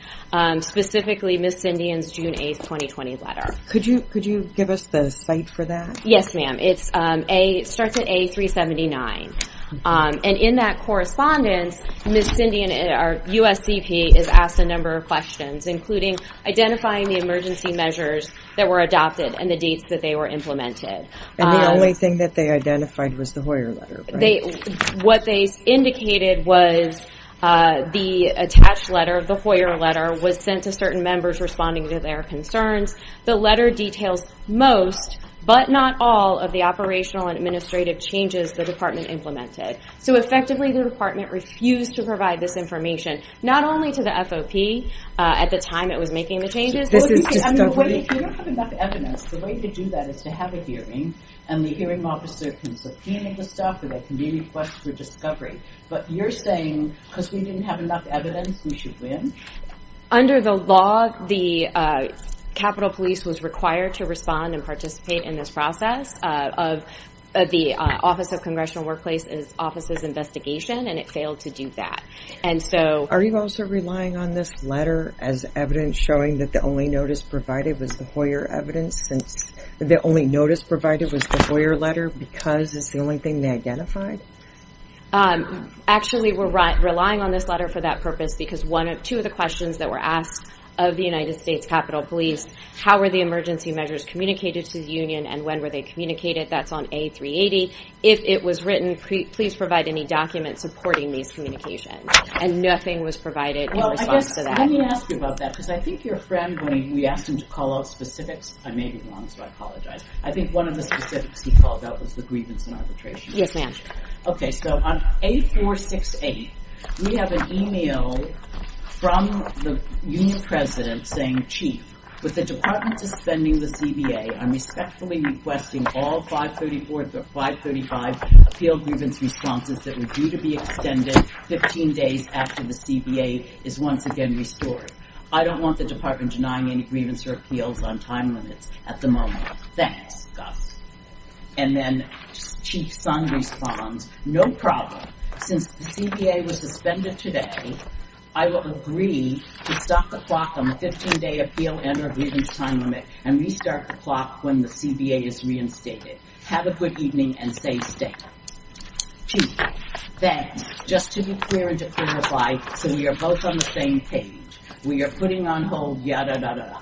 specifically Ms. Sindian's June 8, 2020, letter. Could you give us the site for that? Yes, ma'am. It starts at A-379. And in that correspondence, Ms. Sindian, our USCP, is asked a number of questions, including identifying the emergency measures that were adopted and the dates that they were implemented. And the only thing that they identified was the Hoyer letter, right? What they indicated was the attached letter of the Hoyer letter was sent to certain members responding to their concerns. The letter details most, but not all, of the operational and administrative changes the department implemented. So effectively, the department refused to provide this information, not only to the FOP at the time it was making the changes... This is discovery. If you don't have enough evidence, the way to do that is to have a hearing, and the hearing officer can subpoena the stuff or they can be requested for discovery. But you're saying, because we didn't have enough evidence, we should win? Under the law, the Capitol Police was required to respond and participate in this process. The Office of Congressional Workplace Office's investigation, and it failed to do that. And so... Are you also relying on this letter as evidence showing that the only notice provided was the Hoyer evidence, since the only notice provided was the Hoyer letter because it's the only thing they identified? Actually, we're relying on this letter for that purpose because two of the questions that were asked of the United States Capitol Police, how were the emergency measures communicated to the union, and when were they communicated, that's on A380. If it was written, please provide any documents supporting these communications. And nothing was provided in response to that. Let me ask you about that because I think your friend, when we asked him to call out specifics, I may be wrong, so I apologize. I think one of the specifics he called out was the grievance and arbitration. Yes, ma'am. Okay, so on A468, we have an email from the union president saying, Chief, with the Department suspending the CBA, I'm respectfully requesting all 534 through 535 appeal grievance responses that were due to be extended 15 days after the CBA is once again restored. I don't want the Department denying any grievance or appeals on time limits at the moment. Thanks, Gus. And then Chief Sun responds, no problem. Since the CBA was suspended today, I will agree to stop the clock on the 15-day appeal and or grievance time limit and restart the clock when the CBA is reinstated. Have a good evening and stay stable. Chief, then, just to be clear and to clarify, so we are both on the same page, we are putting on hold ya-da-da-da.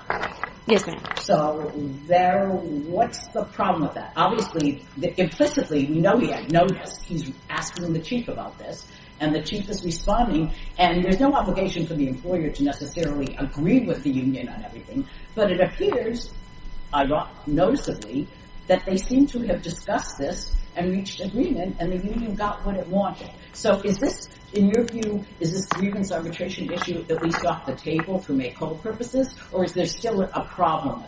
Yes, ma'am. So, there, what's the problem with that? Obviously, implicitly, we know he had noticed. He's asking the Chief about this and the Chief is responding and there's no obligation for the employer to necessarily agree with the union on everything, but it appears noticeably that they seem to have discussed this and reached agreement and the union got what it wanted. So, is this, in your view, is this grievance arbitration issue at least off the table to make whole purposes or is there still a problem?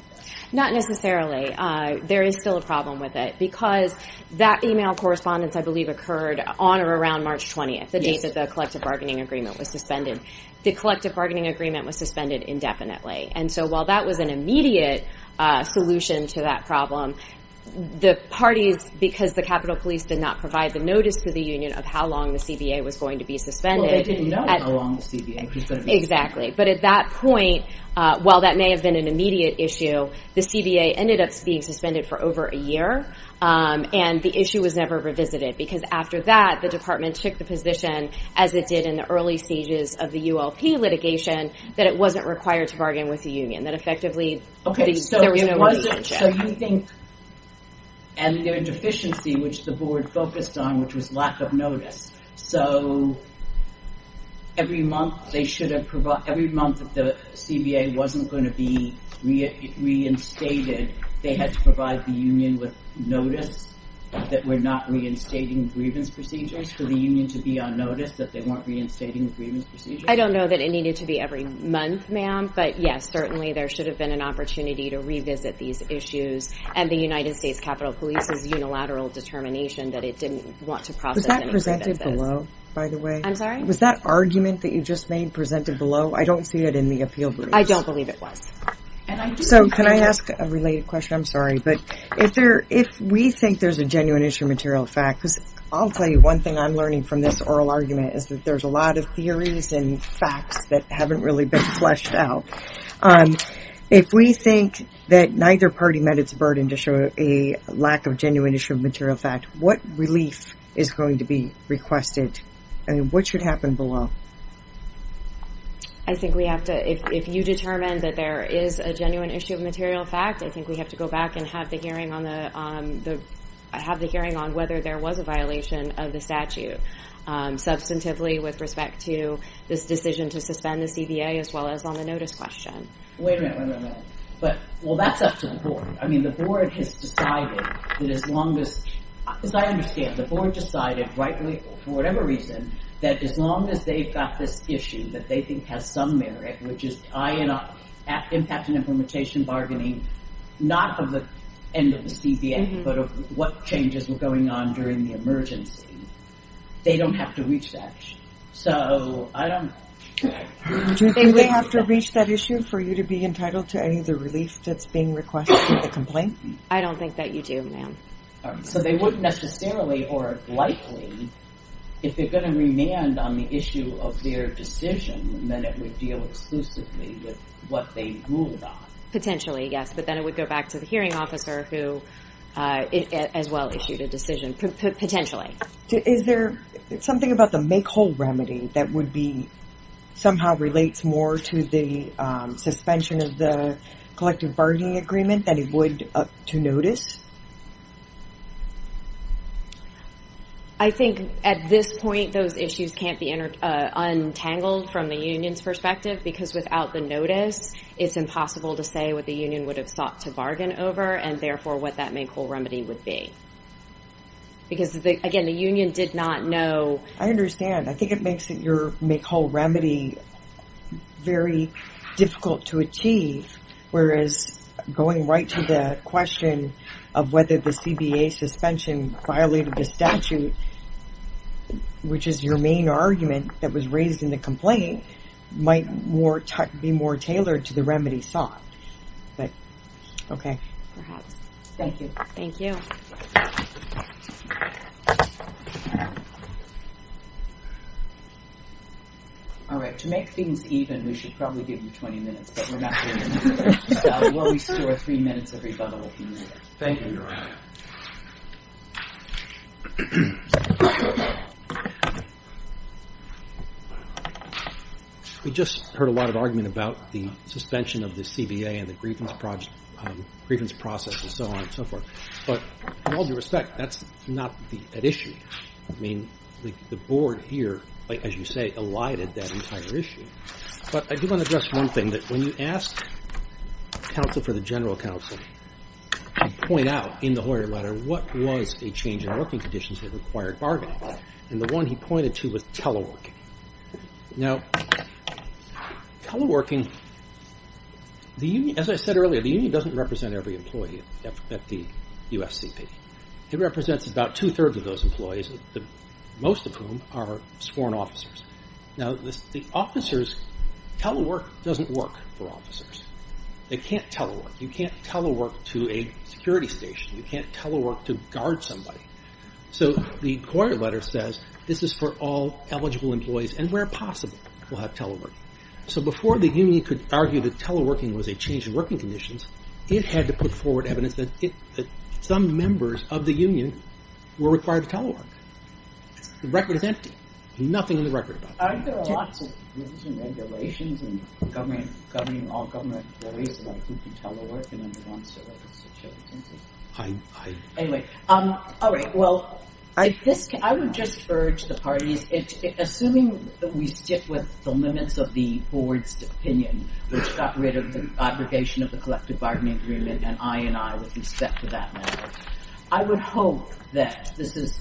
Not necessarily. There is still a problem with it because that email correspondence, I believe, occurred on or around March 20th, the date that the collective bargaining agreement was suspended. The collective bargaining agreement was suspended indefinitely and so while that was an immediate solution to that problem, the parties, because the Capitol Police did not provide the notice to the union of how long the CBA was going to be suspended. Well, they didn't know how long the CBA was going to be suspended. Exactly. But at that point, while that may have been an immediate issue, the CBA ended up being suspended for over a year and the issue was never revisited because after that, the department took the position as it did in the early stages of the ULP litigation that it wasn't required to bargain with the union, that effectively there was no reason to check. Okay, so you think and their deficiency, which the board focused on, which was lack of notice, so every month that the CBA wasn't going to be reinstated, they had to provide the union with notice that we're not reinstating grievance procedures for the union to be on notice that they weren't reinstating grievance procedures? I don't know that it needed to be every month, ma'am, but yes, certainly there should have been an opportunity to revisit these issues and the United States Capitol Police's unilateral determination that it didn't want to process any grievances. Was that presented below, by the way? I'm sorry? Was that argument that you just made presented below? I don't see it in the appeal brief. I don't believe it was. So can I ask a related question? I'm sorry, but if we think there's a genuine issue of material fact, because I'll tell you one thing I'm learning from this oral argument is that there's a lot of theories and facts that haven't really been fleshed out. If we think that neither party met its burden to show a lack of genuine issue of material fact, what relief is going to be requested? I mean, what should happen below? I think we have to, if you determine that there is a genuine issue of material fact, I think we have to go back and have the hearing on the, have the hearing on whether there was a violation of the statute. Substantively, with respect to this decision to suspend the CBA as far as the statute is concerned, as well as on the notice question. Wait a minute, wait a minute, wait a minute. But, well, that's up to the board. I mean, the board has decided that as long as, as I understand, the board decided rightly, for whatever reason, that as long as they've got this issue that they think has some merit, which is eyeing up impact and implementation bargaining, not of the end of the CBA, but of what changes were going on during the emergency, they don't have to reach that. So, I don't know. Do they have to reach that issue for you to be entitled to any of the relief that's being requested in the complaint? I don't think that you do, ma'am. So they wouldn't necessarily, or likely, if they're going to remand on the issue of their decision, then it would deal exclusively with what they ruled on. Potentially, yes. But then it would go back to the hearing officer who, as well, issued a decision. Potentially. Is there something about the make-whole remedy that would be somehow relates more to the suspension of the collective bargaining agreement than it would to notice? I think, at this point, those issues can't be untangled from the union's perspective because, without the notice, it's impossible to say what the union would have sought to bargain over and, therefore, what that make-whole remedy would be. Because, again, the union did not know. I understand. I think it makes that your make-whole remedy very difficult to achieve whereas going right to the question of whether the CBA suspension violated the statute, which is your main argument that was raised in the complaint, might be more tailored to the remedy sought. But, okay. Perhaps. Thank you. Thank you. All right. To make things even, we should probably give you 20 minutes, but we're not doing that. We'll restore three minutes every couple of minutes. Thank you. We just heard a lot of argument about the suspension of the CBA and the grievance process and so on and so forth. But, in all due respect, that's not an issue. I mean, the Board here, as you say, elided that entire issue. But I do want to address one thing. When you ask counsel for the general counsel to point out in the lawyer letter what was a change in working conditions that required bargaining, and the one he teleworking. Now, teleworking, as I said earlier, the union doesn't represent every employee at the USCP. It represents about two-thirds of those employees, most of whom are sworn officers. Now, the officers, telework doesn't work for officers. They can't telework. You can't telework to a security station. You can't telework to guard somebody. So, the lawyer letter says, this is for all eligible employees and where possible will have telework. So, before the union could argue that teleworking was a change in working conditions, it had to put forward evidence that some members of the union were required to telework. The record is empty. Nothing in the record about that. Aren't there lots of rules and regulations and government governing all government employees about who can telework and who wants to work as a security agent? Anyway, all right, well, I would just urge the parties, assuming we stick with the limits of the board's opinion, which got rid of the aggregation of the collective bargaining agreement and I and I with respect to that matter, I would hope that this is,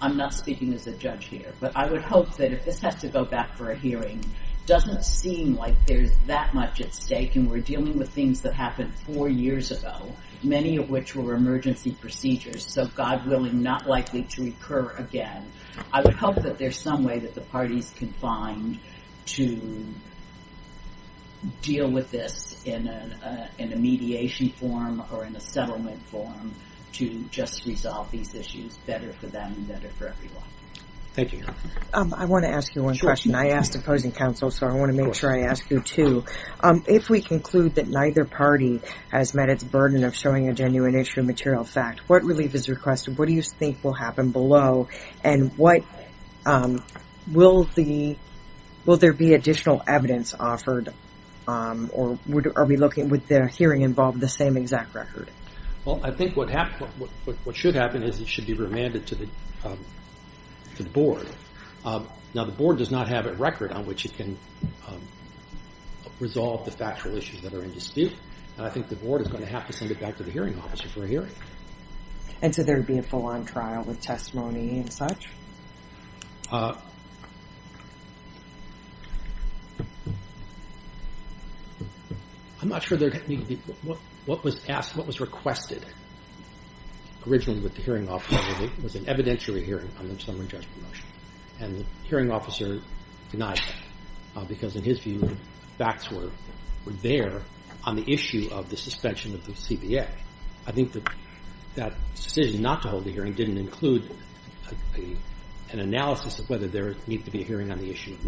I'm not speaking as a judge here, but I would hope that if this has to go back for a hearing, doesn't seem like there's that much at stake and we're dealing with things that happened four years ago, many of which were emergency procedures, so God willing, not likely to occur again, I would hope that there's some way that the parties can find to deal with this in a mediation form or in a settlement form to just resolve these issues better for them and better for everyone. Thank you. I want to ask you one question. I asked opposing counsel, so I want to make sure I ask you too. If we conclude that the is over, will there be additional evidence offered or would the hearing involve the same exact record? I think what should happen is it should be remanded to the board. The board does not have a record on which it can resolve the factual issue. I'm not sure what was asked, what was requested originally with the hearing officer. It was an evidentiary hearing on the summary judgment motion and the hearing officer denied that because in his view the facts were there on the issue of the suspension of the hearing and the issue of notice. That's what happened in statute. Thank you Your Honor.